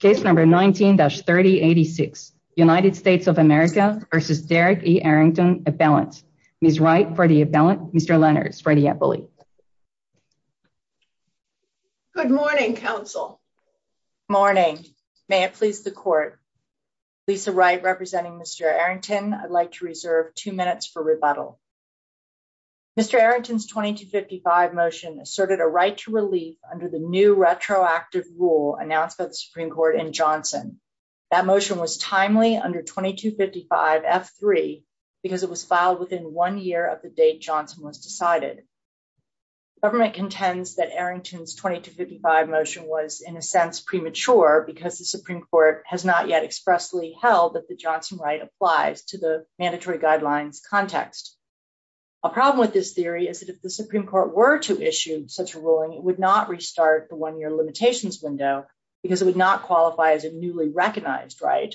case number 19-3086 United States of America versus Derrick E. Arrington appellant. Ms. Wright for the appellant, Mr. Lenners for the appellate. Good morning, counsel. Morning. May it please the court. Lisa Wright representing Mr. Arrington, I'd like to reserve two minutes for rebuttal. Mr. Arrington's 2255 motion asserted a right to relief under the new retroactive rule announced by the Supreme Court in Johnson. That motion was timely under 2255 F3 because it was filed within one year of the date Johnson was decided. Government contends that Arrington's 2255 motion was in a sense premature because the Supreme Court has not yet expressly held that the Johnson right applies to the mandatory guidelines context. A problem with this theory is that if the Supreme Court were to issue such ruling, it would not restart the one-year limitations window because it would not qualify as a newly recognized right.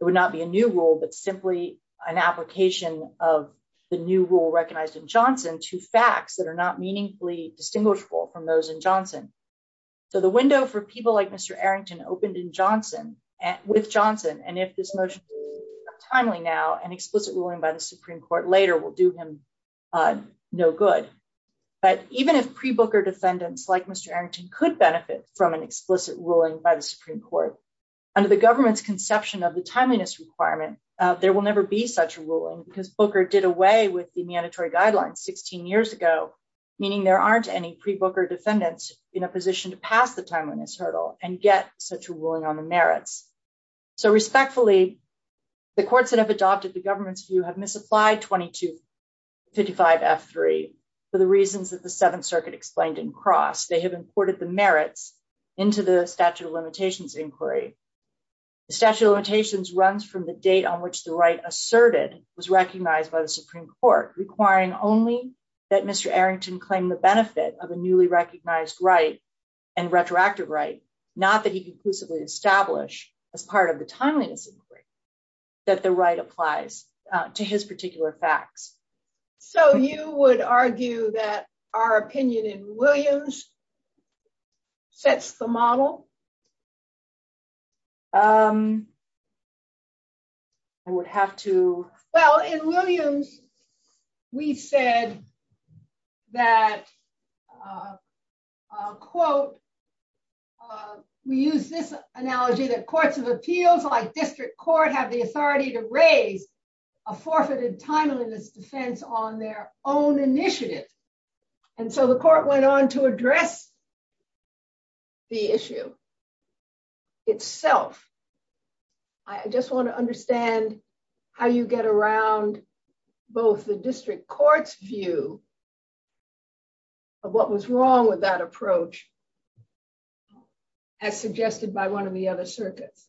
It would not be a new rule, but simply an application of the new rule recognized in Johnson to facts that are not meaningfully distinguishable from those in Johnson. So the window for people like Mr. Arrington opened in Johnson and with Johnson, and if this motion is timely now, an explicit ruling by the Supreme Court later will do him no good. But even if pre-Booker defendants like Mr. Arrington could benefit from an explicit ruling by the Supreme Court, under the government's conception of the timeliness requirement, there will never be such a ruling because Booker did away with the mandatory guidelines 16 years ago, meaning there aren't any pre-Booker defendants in a position to pass the timeliness hurdle and get such a ruling on the merits. So respectfully, the courts that have adopted the government's misapplied 2255F3 for the reasons that the Seventh Circuit explained in Cross. They have imported the merits into the statute of limitations inquiry. The statute of limitations runs from the date on which the right asserted was recognized by the Supreme Court, requiring only that Mr. Arrington claim the benefit of a newly recognized right and retroactive right, not that he established as part of the timeliness inquiry, that the right applies to his particular facts. So you would argue that our opinion in Williams sets the model? Um, I would have to... Well, in Williams, we said that, a quote, we use this analogy that courts of appeals like District Court have the authority to raise a forfeited timeliness defense on their own initiative. And so the court went on to address the issue itself. I just want to understand how you get around both the District Court's view of what was wrong with that approach, as suggested by one of the other circuits.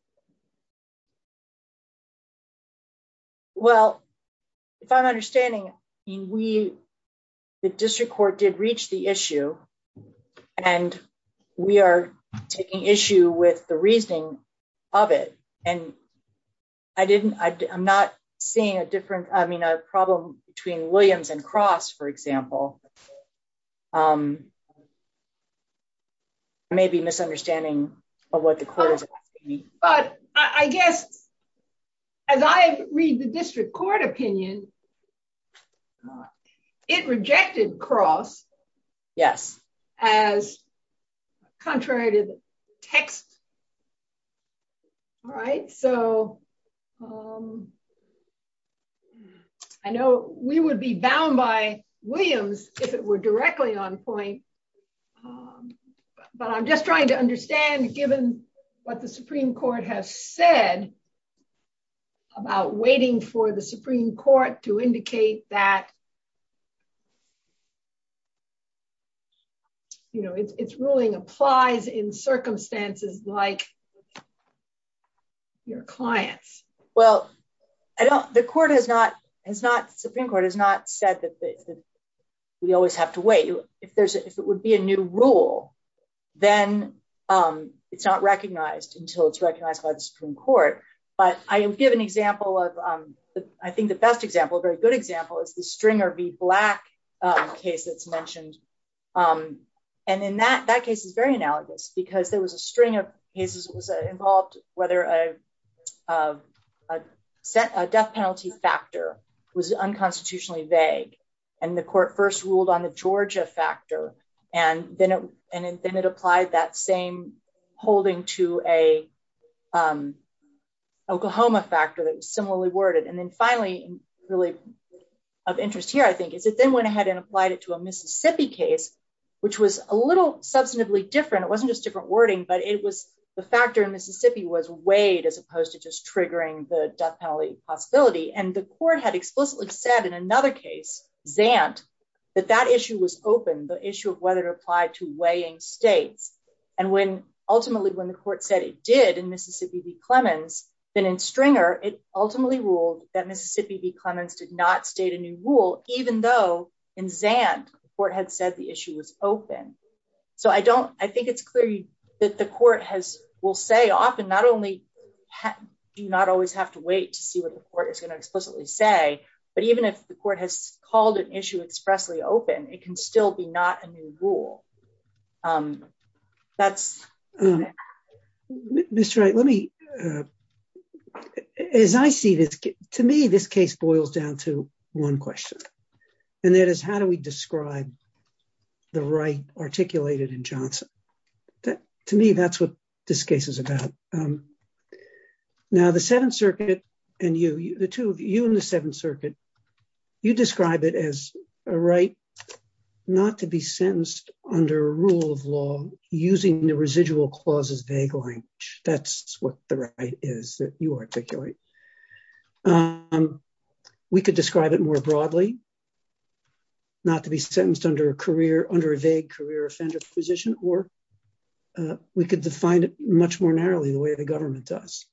Well, if I'm understanding, we, the District Court did reach the issue. And we are taking issue with the reasoning of it. And I didn't, I'm not seeing a different, I mean, a problem between Williams and Cross, for example. Maybe misunderstanding of what the court is asking. But I guess, as I read the District Court opinion, it rejected Cross. Yes. As contrary to the text. All right. So, um, I know we would be bound by Williams, if it were directly on point. But I'm just trying to understand, given what the Supreme Court has said, about waiting for the Supreme Court to indicate that, you know, it's ruling applies in circumstances like your clients. Well, I don't, the court has not, has not, the Supreme Court has not said that we always have to wait. If there's, if it would be a new rule, then it's not recognized until it's recognized by the Supreme Court. But I give an example of, I think the best example, a very good example is the Stringer v. Black case that's mentioned. And in that, that case is very analogous, because there was a string of cases, it was involved, whether a death penalty factor was unconstitutionally vague. And the court first ruled on the Georgia factor. And then, and then it applied that same holding to a Pahoma factor that was similarly worded. And then finally, really, of interest here, I think, is it then went ahead and applied it to a Mississippi case, which was a little substantively different. It wasn't just different wording, but it was the factor in Mississippi was weighed as opposed to just triggering the death penalty possibility. And the court had explicitly said, in another case, Zant, that that issue was open, the issue of whether it applied to weighing states. And when, ultimately, when the court said it did in Mississippi v. Clemens, then in Stringer, it ultimately ruled that Mississippi v. Clemens did not state a new rule, even though in Zant, the court had said the issue was open. So I don't, I think it's clear that the court has, will say often, not only do you not always have to wait to see what the court is going to explicitly say, but even if the court has called an issue expressly open, it can still be not a new rule. That's... Mr. Wright, let me, as I see this, to me, this case boils down to one question. And that is, how do we describe the right articulated in Johnson? To me, that's what this case is about. Now, the Seventh Circuit, and you, the two of you in the Seventh Circuit, you describe it as a right not to be sentenced under a rule of law using the residual clauses vague language. That's what the right is that you articulate. We could describe it more broadly, not to be sentenced under a career, under a vague career offender position, or we could define it much more narrowly the way the government does.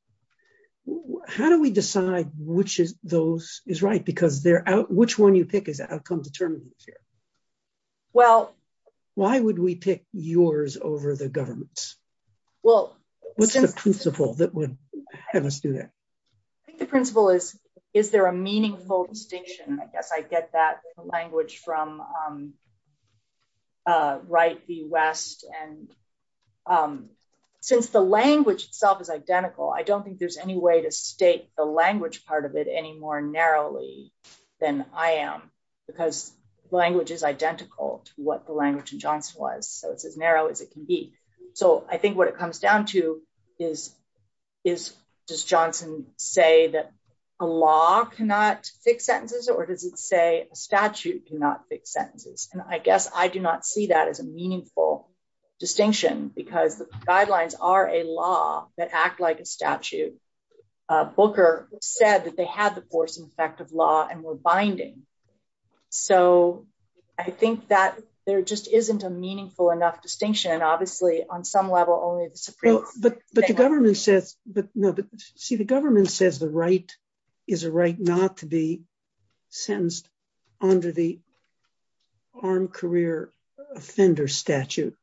How do we decide which is those is right? Because they're out, which one you pick is outcome determinants here? Well, why would we pick yours over the government's? Well, what's the principle that would have us do that? I think the principle is, is there a meaningful distinction? I guess I get that language from right, the West. And since the language itself is identical, I don't think there's any way to state the language part of it any more narrowly than I am, because language is identical to what the language in Johnson was. So it's as narrow as it can be. So I think what it comes down to is, is does Johnson say that a law cannot fix sentences? Or does it say a statute cannot fix sentences? And I guess I do not see that as a meaningful distinction, because the guidelines are a law that act like a statute. Booker said that they had the force and effect of law and were binding. So I think that there just isn't a meaningful enough distinction. And obviously, on some level, only the Supreme- But the government says, but no, but see, government says the right is a right not to be sentenced under the armed career offender statute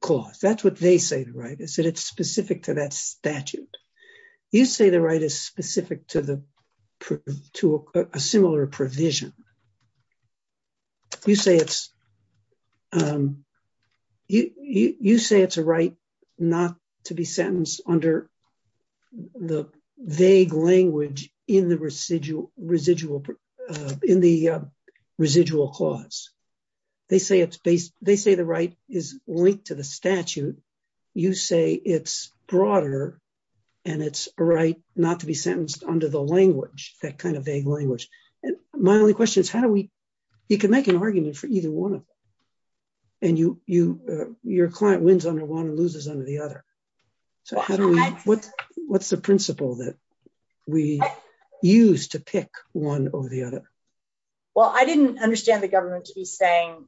clause. That's what they say the right is that it's specific to that statute. You say the right is specific to the to a similar provision. You say it's you say it's a right not to be sentenced under the vague language in the residual, residual, in the residual clause. They say it's based, they say the right is linked to the statute. You say it's broader. And it's a right not to be sentenced under the language, that kind of vague language. And my only question is, how do we, you can make an argument for either one of them. And your client wins under one and loses under the other. So what's the principle that we use to pick one over the other? Well, I didn't understand the government to be saying,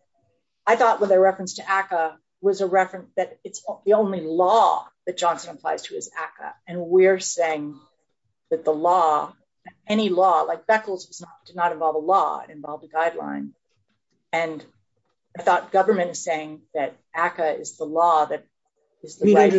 I thought with a reference to ACCA was a reference that it's the only law that Johnson applies to is ACCA. And we're saying that the law, any law, like Beckles did not involve a law, involved a guideline. And I thought government is saying that ACCA is the law that is the right.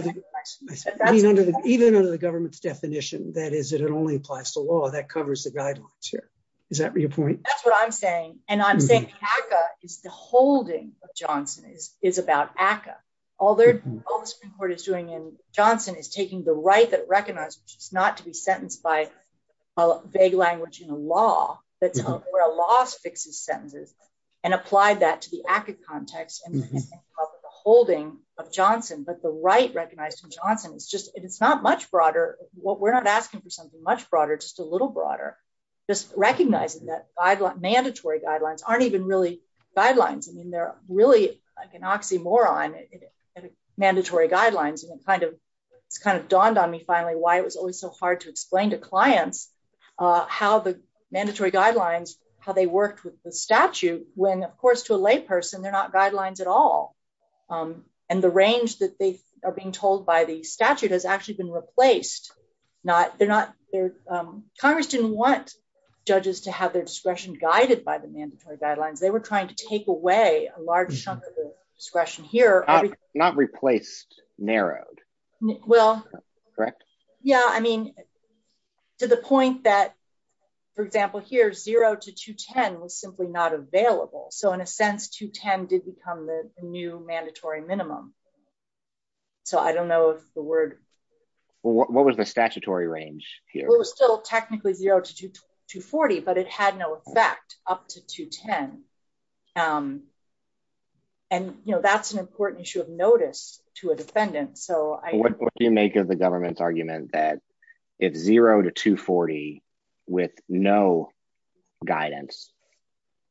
Even under the government's definition, that is that it only applies to law that covers the guidelines here. Is that your point? That's what I'm saying. And I'm saying ACCA is the holding of Johnson is about ACCA. All the Supreme Court is doing in Johnson is taking the right that is recognized, which is not to be sentenced by a vague language in a law that's where a law fixes sentences and apply that to the ACCA context and the holding of Johnson. But the right recognized in Johnson, it's just, it's not much broader. We're not asking for something much broader, just a little broader. Just recognizing that mandatory guidelines aren't even really guidelines. I mean, they're really like an oxymoron, mandatory guidelines. And it's kind of dawned on me finally, why it was always so hard to explain to clients how the mandatory guidelines, how they worked with the statute, when of course to a lay person, they're not guidelines at all. And the range that they are being told by the statute has actually been replaced. Congress didn't want judges to have their discretion guided by the mandatory guidelines. They were trying to take away a large chunk of the discretion here. Not replaced, narrowed. Well, correct. Yeah. I mean, to the point that for example, here, zero to 210 was simply not available. So in a sense, 210 did become the new mandatory minimum. So I don't know if the word, what was the statutory range here? It was still technically zero to 240, but it had no effect up to 210. And that's an important issue of notice to a defendant. So what do you make of the government's argument that if zero to 240 with no guidance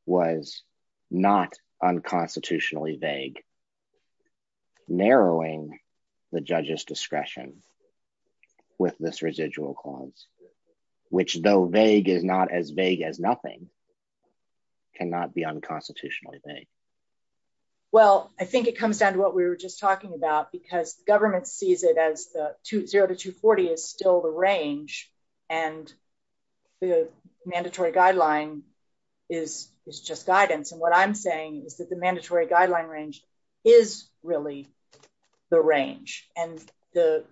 was not unconstitutionally vague, narrowing the judge's discretion with this residual clause, which though vague is not as vague as nothing, cannot be unconstitutionally vague? Well, I think it comes down to what we were just talking about because the government sees it as the zero to 240 is still the range and the mandatory guideline is just guidance. And what I'm saying is that the mandatory guideline range is really the range. And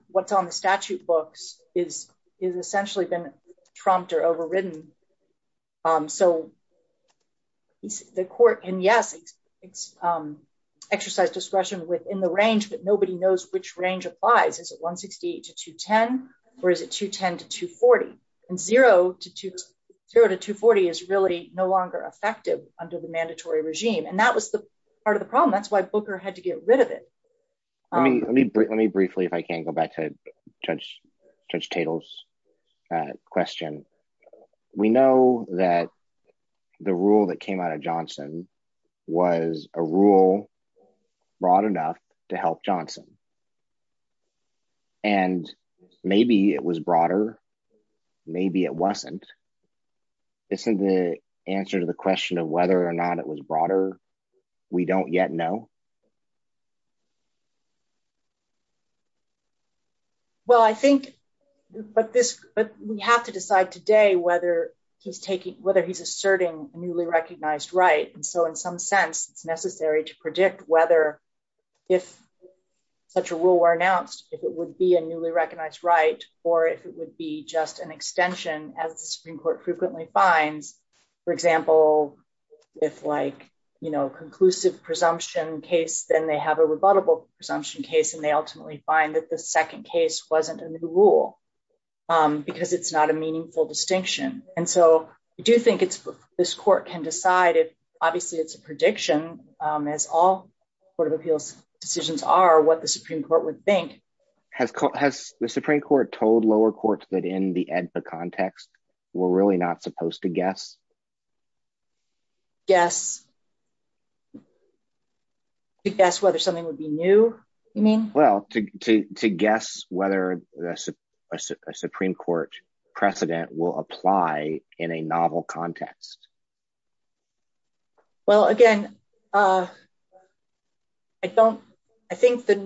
what's on the statute books is essentially been trumped or overridden. So the court, and yes, it's exercised discretion within the range, but nobody knows which range applies. Is it 168 to 210 or is it 210 to 240? And zero to 240 is really no longer effective under the mandatory regime. And that was the part of the problem. That's why Booker had to get rid of it. Let me briefly, if I can go back to Judge Tatel's question. We know that the rule that came out of Johnson was a rule broad enough to help Johnson. And maybe it was broader, maybe it wasn't. Isn't the answer to the question of whether or not it was broader, we don't yet know. Well, I think, but we have to decide today whether he's taking, whether he's asserting a newly recognized right. And so in some sense, it's necessary to predict whether, if such a rule were announced, if it would be a newly recognized right, or if it would be just an extension as the Supreme Court frequently finds, for example, if like conclusive presumption case, then they have a rebuttable presumption case. And they ultimately find that the second case wasn't a new rule because it's not a meaningful distinction. And so I do think this court can decide if, obviously it's a prediction as all Court of Appeals decisions are, what the Supreme Court would think. Has the Supreme Court told lower courts that in the AEDPA context, we're really not supposed to guess, to guess whether something would be new, you mean? Well, to guess whether a Supreme Court precedent will apply in a novel context. Well, again, I don't, I think that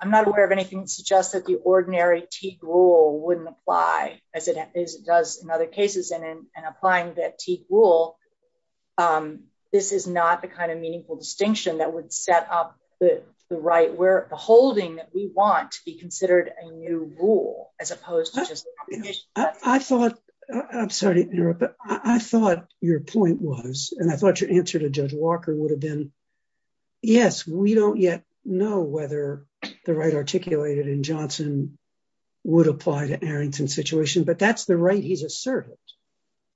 I'm not aware of anything that suggests that the ordinary Teague wouldn't apply as it does in other cases. And in applying that Teague rule, this is not the kind of meaningful distinction that would set up the right where the holding that we want to be considered a new rule, as opposed to just... I thought, I'm sorry to interrupt, but I thought your point was, and I thought your answer to Judge Walker would have been, yes, we don't yet know whether the right articulated in Johnson would apply to Arrington's situation, but that's the right he's asserted.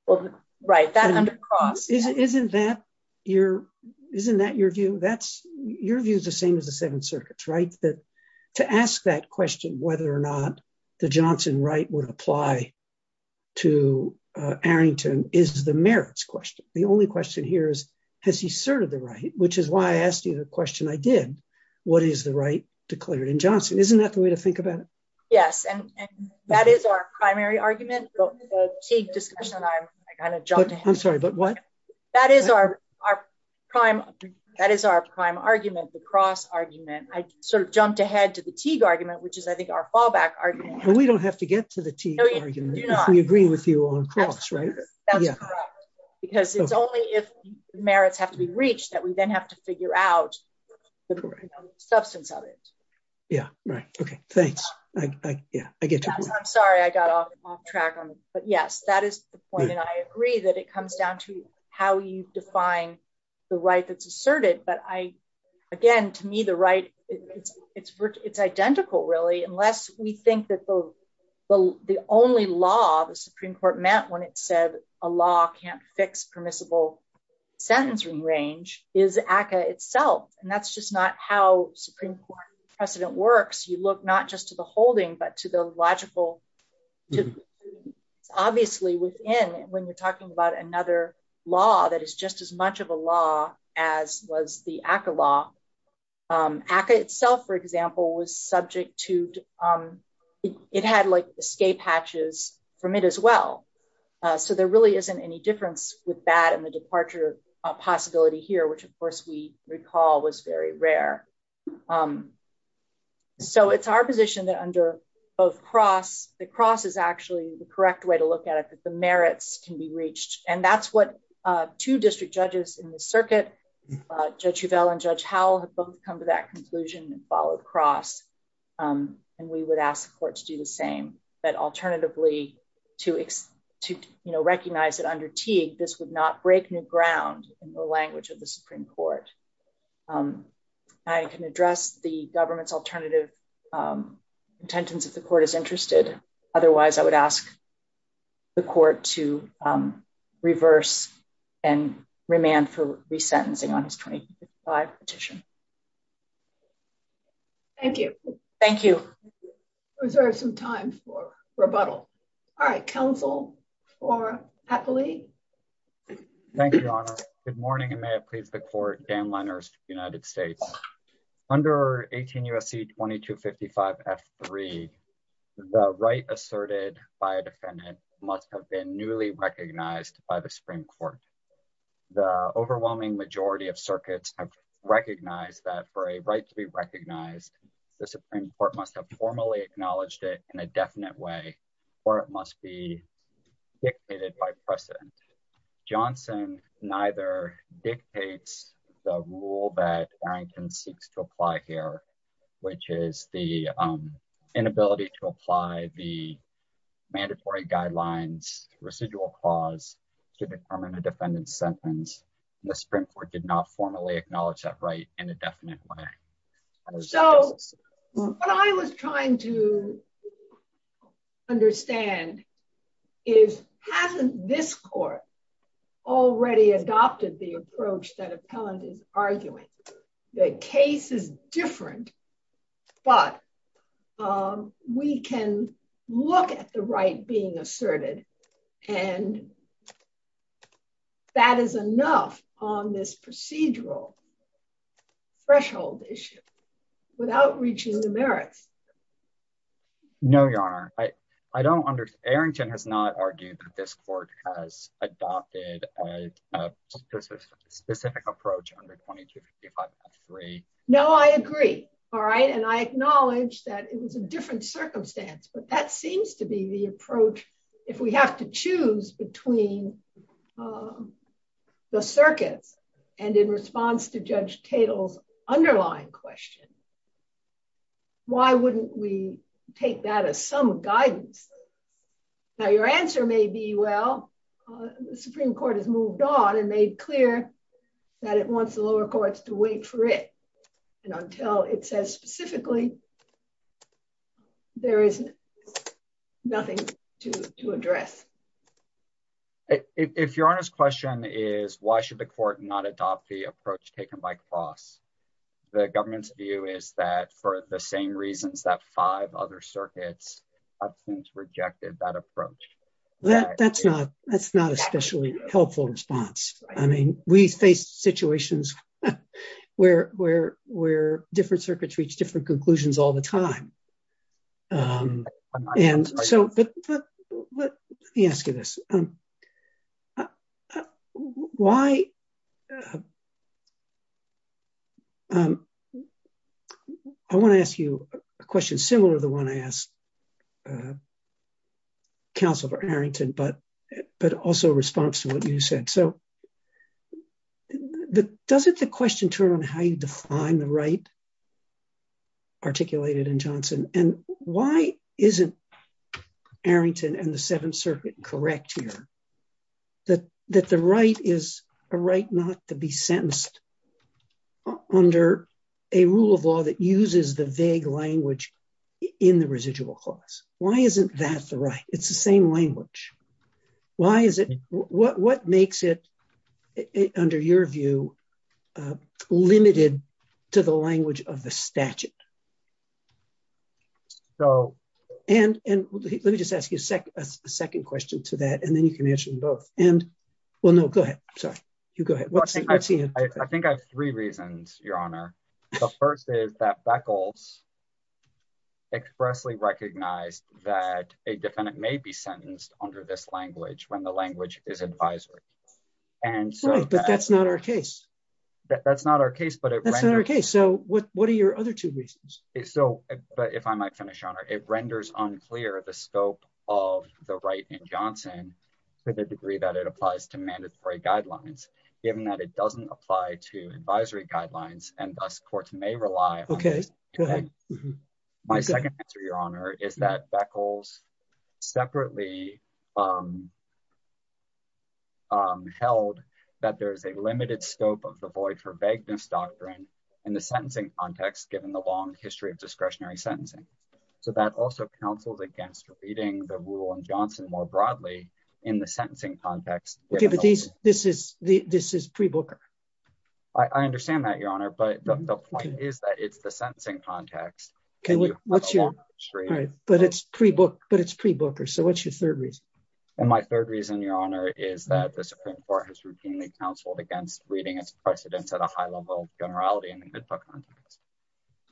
Well, right, that under cross... Isn't that your, isn't that your view? That's, your view is the same as the Seventh Circuit's, right? That to ask that question, whether or not the Johnson right would apply to Arrington is the merits question. The only question here is, has he asserted the right, which is why I asked you the question I did, what is the right declared in Johnson? Isn't that the way to think about it? Yes, and that is our primary argument, but the Teague discussion, I kind of jumped ahead. I'm sorry, but what? That is our prime argument, the cross argument. I sort of jumped ahead to the Teague argument, which is, I think, our fallback argument. We don't have to get to the Teague argument if we agree with you on cross, right? That's correct, because it's only if merits have to be reached that we then have to figure out the substance of it. Yeah, right. Okay, thanks. Yeah, I get you. I'm sorry I got off track on it, but yes, that is the point, and I agree that it comes down to how you define the right that's asserted, but I, again, to me, the right, it's identical, really, unless we think that the only law the Supreme Court met when it said a law can't fix permissible sentencing range is ACCA itself, and that's just not how Supreme Court precedent works. You look not just to the holding, but to the logical. Obviously, within, when you're talking about another law that is just as much of a law as was the ACCA law, ACCA itself, for example, was subject to, it had like escape hatches from it as well, so there really isn't any difference with that and the departure possibility here, which, of course, we recall was very rare. So it's our position that under both cross, the cross is actually the correct way to look at it, that the merits can be reached, and that's what two district judges in the circuit, Judge Huvell and Judge Howell, have both come to that conclusion and followed cross, and we would ask the court to do the same, but alternatively, to recognize that under Teague, this would not break new ground in the language of the Supreme Court. I can address the government's alternative contentions if the court is interested. Otherwise, I would ask the court to reverse and remand for resentencing on his 25 petition. Thank you. Thank you. Reserve some time for rebuttal. All right, counsel, for Hathaway. Thank you, Your Honor. Good morning, and may it please the court, Dan Lenners, United States. Under 18 U.S.C. 2255 F3, the right asserted by a defendant must have been newly recognized by the Supreme Court. The overwhelming majority of circuits have recognized that for a right to be recognized, the Supreme Court must have formally acknowledged it in a definite way, or it must be dictated by precedent. Johnson neither dictates the rule that Arrington seeks to apply here, which is the inability to apply the mandatory guidelines residual clause to determine a defendant's sentence. The Supreme Court did not formally acknowledge that right in a definite way. So what I was trying to understand is hasn't this court already adopted the approach that appellant is arguing? The case is different, but we can look at the right being asserted, and that is enough on this procedural threshold issue without reaching the merits. No, Your Honor. I don't understand. Arrington has not argued that this court has adopted a specific approach under 2255 F3. No, I agree. All right, and I acknowledge that it was a different circumstance, but that seems to be the approach if we have to choose between the circuits and in response to Judge Tatel's underlying question, why wouldn't we take that as some guidance? Now, your answer may be, well, the Supreme Court has moved on and made clear that it wants the lower courts to wait for it, and until it says specifically, there is nothing to address. If your Honor's question is why should the court not adopt the approach taken by Closs, the government's view is that for the same reasons that five other circuits have since rejected that approach. That's not especially helpful response. I mean, we face reach different conclusions all the time. Let me ask you this. I want to ask you a question similar to the one I asked counsel for Arrington, but also a response to what you said. So the, doesn't the question turn on how you define the right articulated in Johnson? And why isn't Arrington and the Seventh Circuit correct here? That the right is a right not to be sentenced under a rule of law that uses the vague language in the residual clause. Why isn't that the right? It's the same language. Why is it, what makes it under your view, limited to the language of the statute? And let me just ask you a second question to that, and then you can answer them both. And well, no, go ahead. Sorry. You go ahead. I think I have three reasons, Your Honor. The first is that Beckles expressly recognized that a defendant may be sentenced under this language when the language is advisory. But that's not our case. That's not our case, but that's not our case. So what, what are your other two reasons? So, but if I might finish on her, it renders unclear the scope of the right in Johnson, to the degree that it applies to mandatory guidelines, given that it doesn't apply to advisory guidelines and thus courts may rely. My second answer, Your Honor, is that Beckles separately held that there is a limited scope of the void for vagueness doctrine in the sentencing context, given the long history of discretionary sentencing. So that also counsels against reading the rule in Johnson more broadly in the sentencing context. Okay, but this is pre-booker. I understand that, Your Honor, but the point is that it's the it's pre-booker. So what's your third reason? And my third reason, Your Honor, is that the Supreme Court has routinely counseled against reading its precedents at a high level of generality in the HIPAA context.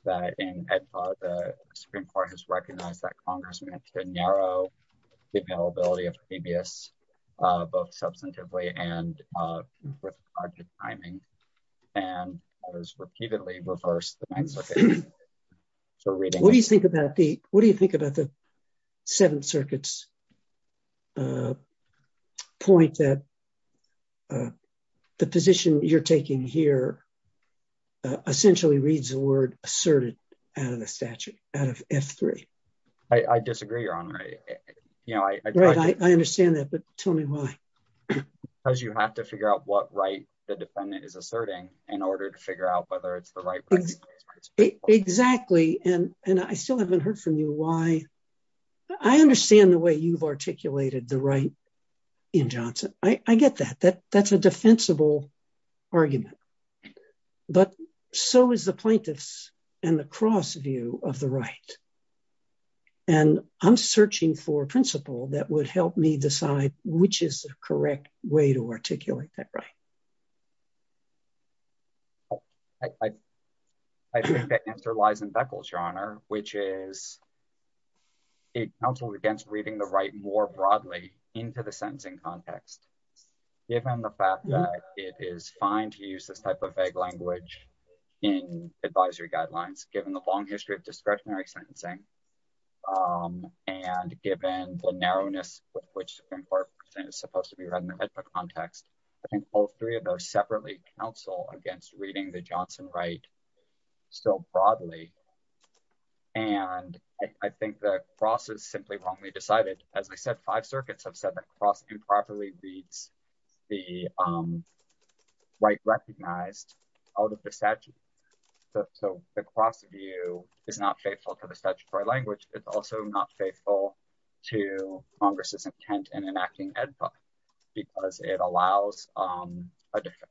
That in HIPAA, the Supreme Court has recognized that Congress meant to narrow the availability of previous, both substantively and with the timing, and has repeatedly reversed the mindset for reading. What do you think about the, Seventh Circuit's point that the position you're taking here essentially reads the word asserted out of the statute, out of F3? I disagree, Your Honor. You know, I understand that, but tell me why. Because you have to figure out what right the defendant is asserting in order to figure out whether it's the right. Exactly, and I still haven't heard from you why. I understand the way you've articulated the right in Johnson. I get that. That's a defensible argument. But so is the plaintiff's and the cross view of the right. And I'm searching for a principle that would help me decide which is the correct way to articulate that right. I think the answer lies in Beckles, Your Honor, which is it counseled against reading the right more broadly into the sentencing context. Given the fact that it is fine to use this type of vague language in advisory guidelines, given the long history of discretionary sentencing, and given the narrowness with which the Supreme Court is supposed to be read in the HIPAA context, I think all three of those separately counsel against reading the Johnson right so broadly. And I think the cross is simply wrongly decided. As I said, five circuits have said the cross improperly reads the right recognized out of the statute. So the cross view is not faithful to the statutory language. It's also not faithful to Congress's intent in enacting Ed Buck, because it allows,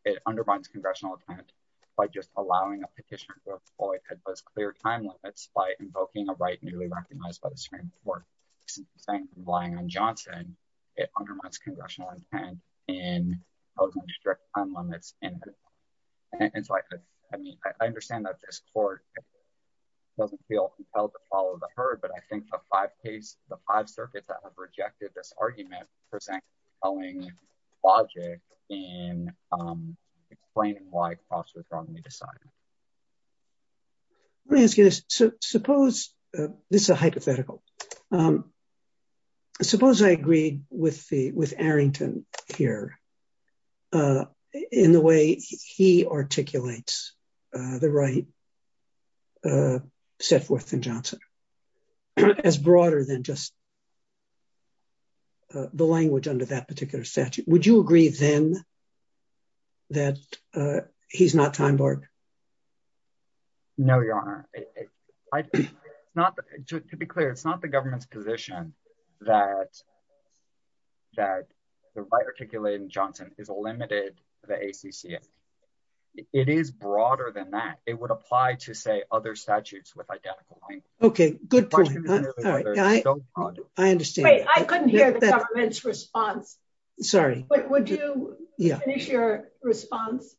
it undermines congressional intent by just allowing a petitioner to avoid those clear time limits by invoking a right newly recognized by the Supreme Court. Relying on Johnson, it undermines congressional intent in those strict time limits. And it's like, I mean, I understand that this court doesn't feel compelled to follow the herd. But I think the five circuits that have rejected this argument present following logic in explaining why cross was wrongly decided. Let me ask you this. So suppose, this is a hypothetical. Suppose I agree with Arrington here in the way he articulates the right set forth in Johnson, as broader than just the language under that particular statute. Would you agree then that he's not time barred? No, Your Honor. To be clear, it's not the government's position that the right articulated in Johnson is limited to the ACCA. It is broader than that, it would apply to say other statutes with identical language. Okay, good point. I understand. Wait, I couldn't hear the government's response. Sorry. But would you finish your response?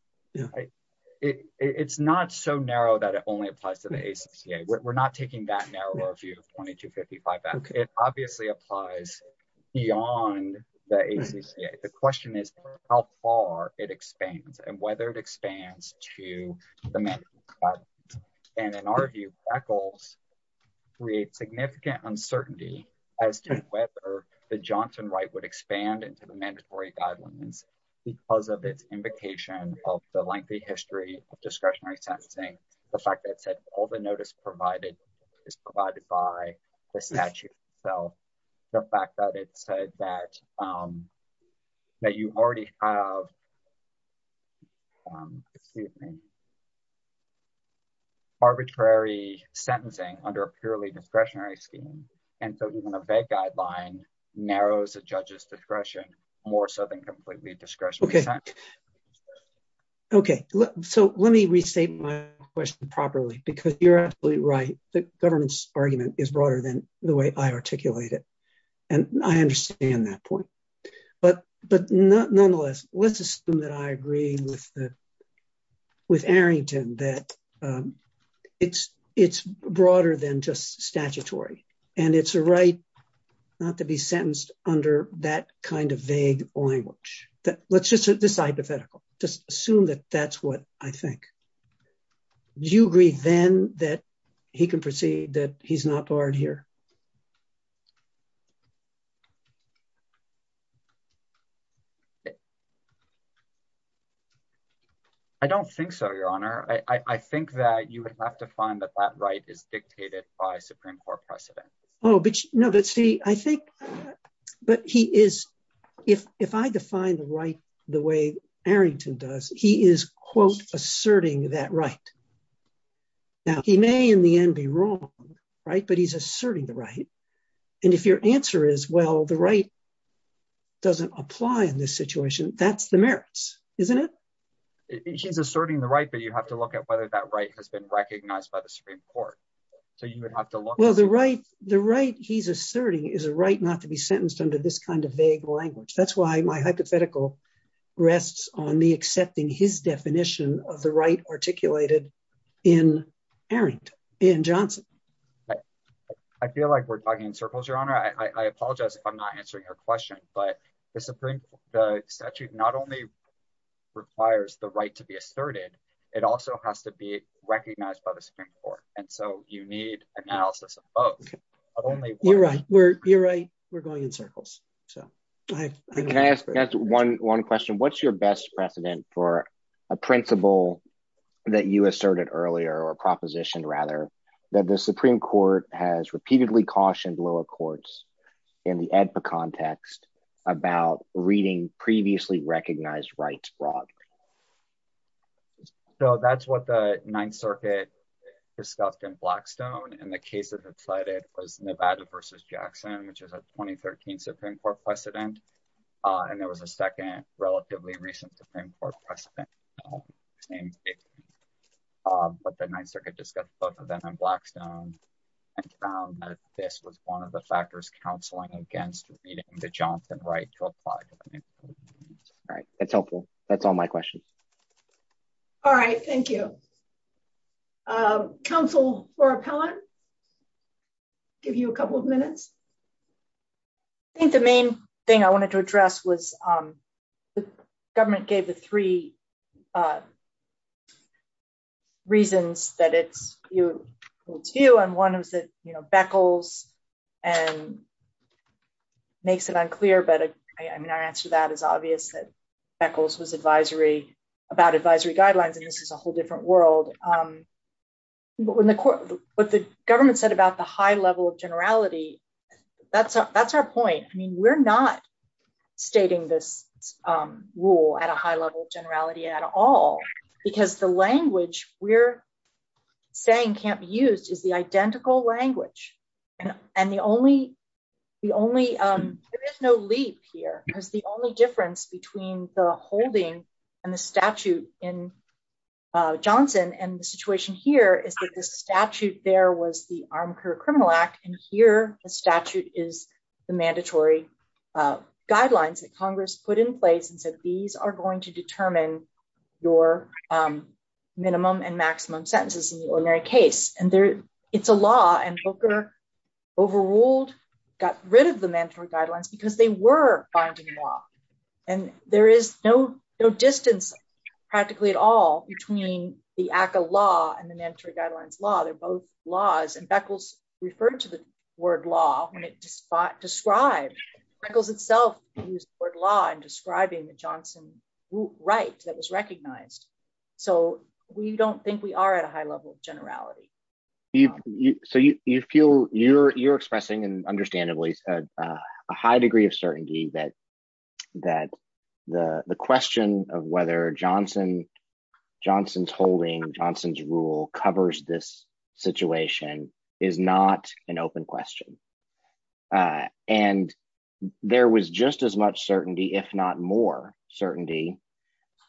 It's not so narrow that it only applies to the ACCA. We're not taking that narrow view of 2255. It obviously applies beyond the ACCA. The question is, how far it expands and whether it expands to the mandate. And in our view, ECHLs create significant uncertainty as to whether the Johnson right would expand into the mandatory guidelines because of its invocation of the lengthy history of discretionary sentencing. The fact that said, the notice provided is provided by the statute itself. The fact that it said that you already have arbitrary sentencing under a purely discretionary scheme. And so even a vague guideline narrows the judge's discretion more so than completely discretionary. Okay, so let me restate my question properly, because you're absolutely right. The government's argument is broader than the way I articulate it. And I understand that point. But nonetheless, let's assume that I agree with Arrington that it's broader than just statutory. And it's a right not to be sentenced under that kind of vague language. Let's just this hypothetical, just assume that that's what I think. Do you agree then that he can proceed that he's not barred here? I don't think so, Your Honor. I think that you would have to find that that right is dictated by Supreme Court precedent. Oh, but no, but see, I think, but he is, if I define the right, the way Arrington does, he is, quote, asserting that right. Now, he may in the end be wrong, right, but he's asserting the right. And if your answer is, well, the right doesn't apply in this situation, that's the merits, isn't it? He's asserting the right, but you have to look at whether that right has been recognized by the Supreme Court. So you would have to look. Well, the right he's asserting is a right not to be sentenced under this kind of vague language. That's why my hypothetical rests on me accepting his definition of the right articulated in Arrington, in Johnson. I feel like we're talking in circles, Your Honor. I apologize if I'm not answering your question, but the Supreme, the statute not only requires the right to be asserted, it also has to be recognized by the Supreme Court. And so you need analysis of both. You're right. We're, you're right. We're going in circles. So. Can I ask one question? What's your best precedent for a principle that you asserted earlier, or a proposition rather, that the Supreme Court has repeatedly cautioned lower courts in the Edpa context about reading previously recognized rights broadly? So that's what the Ninth Circuit discussed in Blackstone. And the cases it cited was Nevada versus Jackson, which is a 2013 Supreme Court precedent. And there was a second relatively recent Supreme Court precedent. But the Ninth Circuit discussed both of them in Blackstone and found that this was one of the factors counseling against reading the Johnson right to apply. All right. That's helpful. That's all my question. All right. Thank you. Counsel for appellant. Give you a couple of minutes. I think the main thing I wanted to address was the government gave the three reasons that it's two and one was that, you know, Beckles and makes it unclear. But I mean, our answer to that is obvious that Beckles was advisory about advisory guidelines, and this is a whole different world. But when the court, what the government said about the high level of generality, that's, that's our point. I mean, we're not stating this rule at a high level of generality at all, because the language we're saying can't be used is the identical language. And, and the only, the only, there is no leap here, because the only difference between the holding and the statute in Johnson and the situation here is that the statute there was the Armed Career Criminal Act. And here, the statute is the mandatory guidelines that Congress put in place. And so these are going to determine your minimum and maximum sentences in the ordinary case. And there, it's a law and Booker overruled, got rid of the mandatory guidelines, because they were binding law. And there is no, no distance, practically at all between the ACA law and the mandatory guidelines law. They're both laws and Beckles referred to the word law when it described, Beckles itself used the word law in describing the Johnson right that was recognized. So we don't think we are at a high level of generality. So you feel you're, you're expressing and understandably, a high degree of certainty that, that the question of whether Johnson, Johnson's holding, Johnson's rule covers this situation is not an open question. And there was just as much certainty, if not more certainty,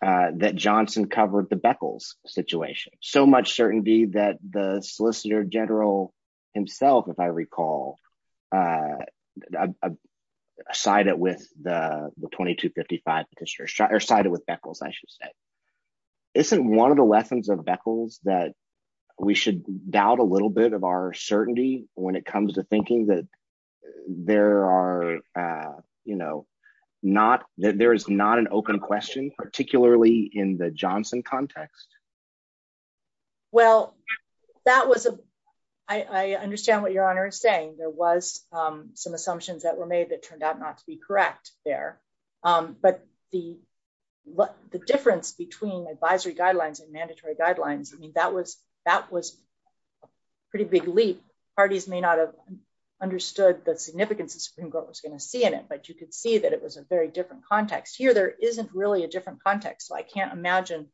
that Johnson covered the Beckles situation, so much certainty that the Solicitor General himself, if I recall, sided with the 2255, or sided with Beckles, I should say. Isn't one of the lessons of Beckles that we should doubt a little bit of our certainty when it comes to thinking that there are, you know, not that there is not an open question, particularly in the Johnson context? Well, that was a, I understand what your honor is saying, there was some assumptions that were made that turned out not to be correct there. But the difference between advisory guidelines and mandatory guidelines, I mean, that was, that was pretty big leap, parties may not have understood the significance of Supreme Court was going to see in it. But you could see that it was a very different context. Here, there isn't really a different context. So I can't imagine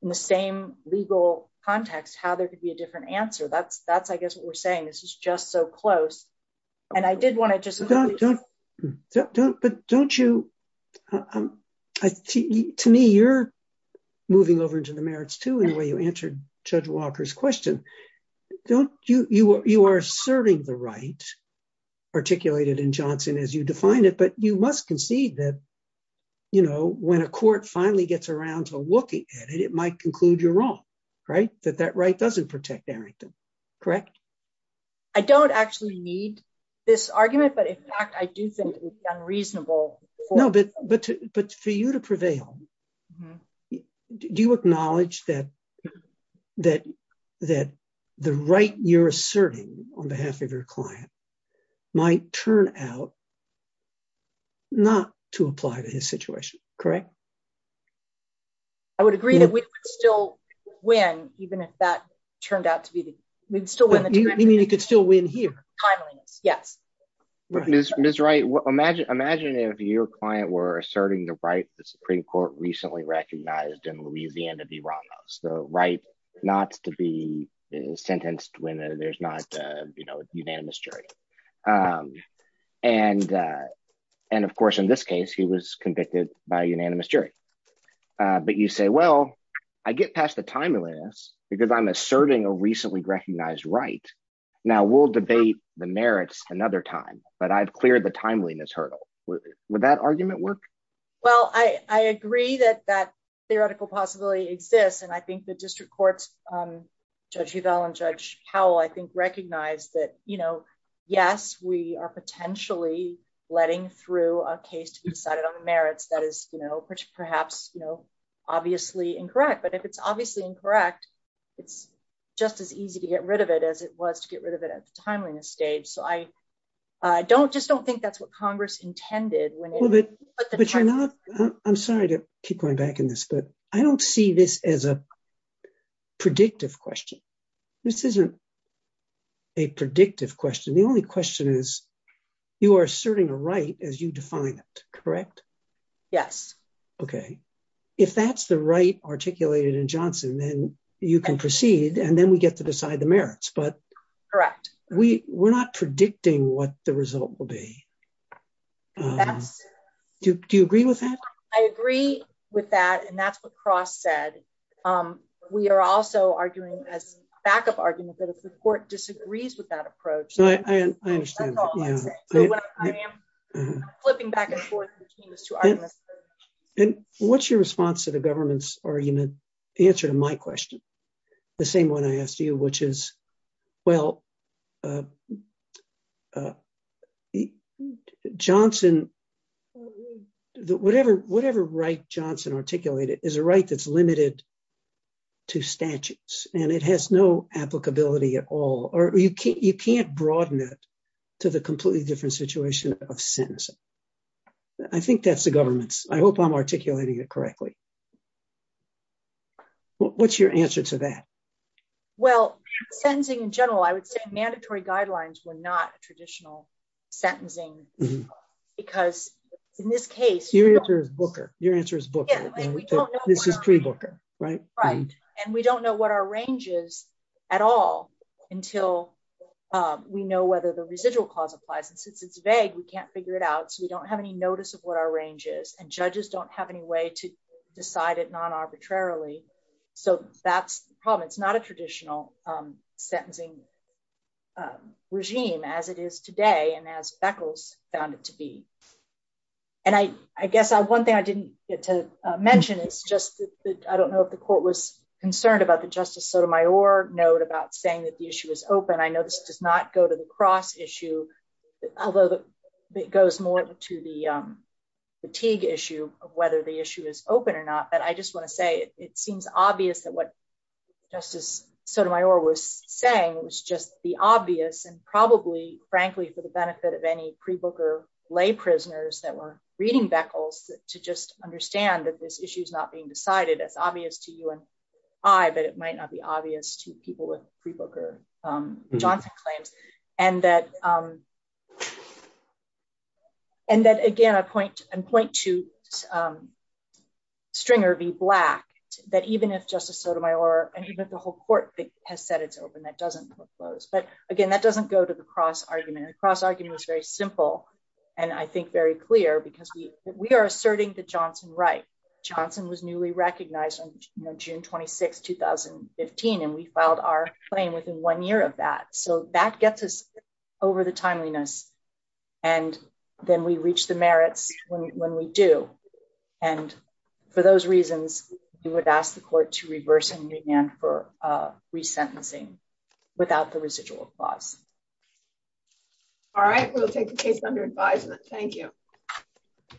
in the same legal context, how there could be a different answer. That's, that's, I guess what we're saying, this is just so close. And I did want to just don't, don't, don't, but don't you? To me, you're moving over into the merits to anyway, you answered Judge Walker's question. Don't you, you are serving the right, articulated in Johnson, as you define it, but you must concede that, you know, when a court finally gets around to looking at it, it might conclude you're wrong, right, that that right doesn't protect Arrington, correct? I don't actually need this argument. But in fact, I do think it's unreasonable. No, but, but, but for you to prevail, do you acknowledge that, that, that the right you're asserting on behalf of your client might turn out not to apply to his situation, correct? I would agree that we still win, even if that turned out to be the, we'd still win. You mean you could still win here? Timeliness, yes. Ms. Wright, imagine, imagine if your client were asserting the right the Supreme Court recently recognized in Louisiana v. Ramos, the right not to be sentenced when there's not, you know, unanimous jury. And, and of course, in this case, he was convicted by a unanimous jury. But you say, well, I get past the timeliness, because I'm asserting a recently recognized right. Now we'll debate the merits another time. But I've cleared the timeliness hurdle. Would that argument work? Well, I agree that that theoretical possibility exists. And I think the you know, yes, we are potentially letting through a case to be decided on the merits that is, you know, perhaps, you know, obviously incorrect. But if it's obviously incorrect, it's just as easy to get rid of it as it was to get rid of it at the timeliness stage. So I don't just don't think that's what Congress intended. I'm sorry to keep going back in this, but I don't see this as a a predictive question. The only question is, you are asserting a right as you define it, correct? Yes. Okay. If that's the right articulated in Johnson, then you can proceed. And then we get to decide the merits. But correct, we were not predicting what the result will be. Do you agree with that? I agree with that. And that's what Cross said. We are also arguing as a backup argument that if the court disagrees with that approach. And what's your response to the government's argument? The answer to my question? The same one I asked you, which is, well, the Johnson, whatever, whatever right Johnson articulated is a right that's limited to statutes, and it has no applicability at all, or you can't you can't broaden it to the completely different situation of sentencing. I think that's the government's, I hope I'm articulating it correctly. What's your answer to that? Well, sentencing in general, I would say mandatory guidelines were not traditional sentencing. Because in this case, your answer is Booker, your answer is Booker. This is pre Booker, right? Right. And we don't know what our range is, at all, until we know whether the residual clause applies. And since it's vague, we can't figure it out. So we don't have any notice of what our range is. And judges don't have any way to decide it non arbitrarily. So that's the problem. It's not a traditional sentencing regime as it is today, and as Beckles found it to be. And I guess one thing I didn't get to mention is just that I don't know if the court was concerned about the Justice Sotomayor note about saying that the issue is open. I know this does not go to the cross issue. Although it goes more to the fatigue issue of whether the issue is open or not. But I just want to say it seems obvious that what Justice Sotomayor was saying was just the obvious and probably, frankly, for the benefit of any pre Booker lay prisoners that were reading Beckles to just understand that this issue is not being decided as obvious to you and I, but it might not obvious to people with pre Booker Johnson claims. And that again, I point to Stringer v. Black, that even if Justice Sotomayor and even if the whole court has said it's open, that doesn't close. But again, that doesn't go to the cross argument. The cross argument was very simple. And I think very clear because we are asserting the Johnson right. Johnson was newly 2006 2015. And we filed our claim within one year of that. So that gets us over the timeliness. And then we reach the merits when we do. And for those reasons, we would ask the court to reverse and remand for resentencing without the residual clause. All right, we'll take the case under Thank you.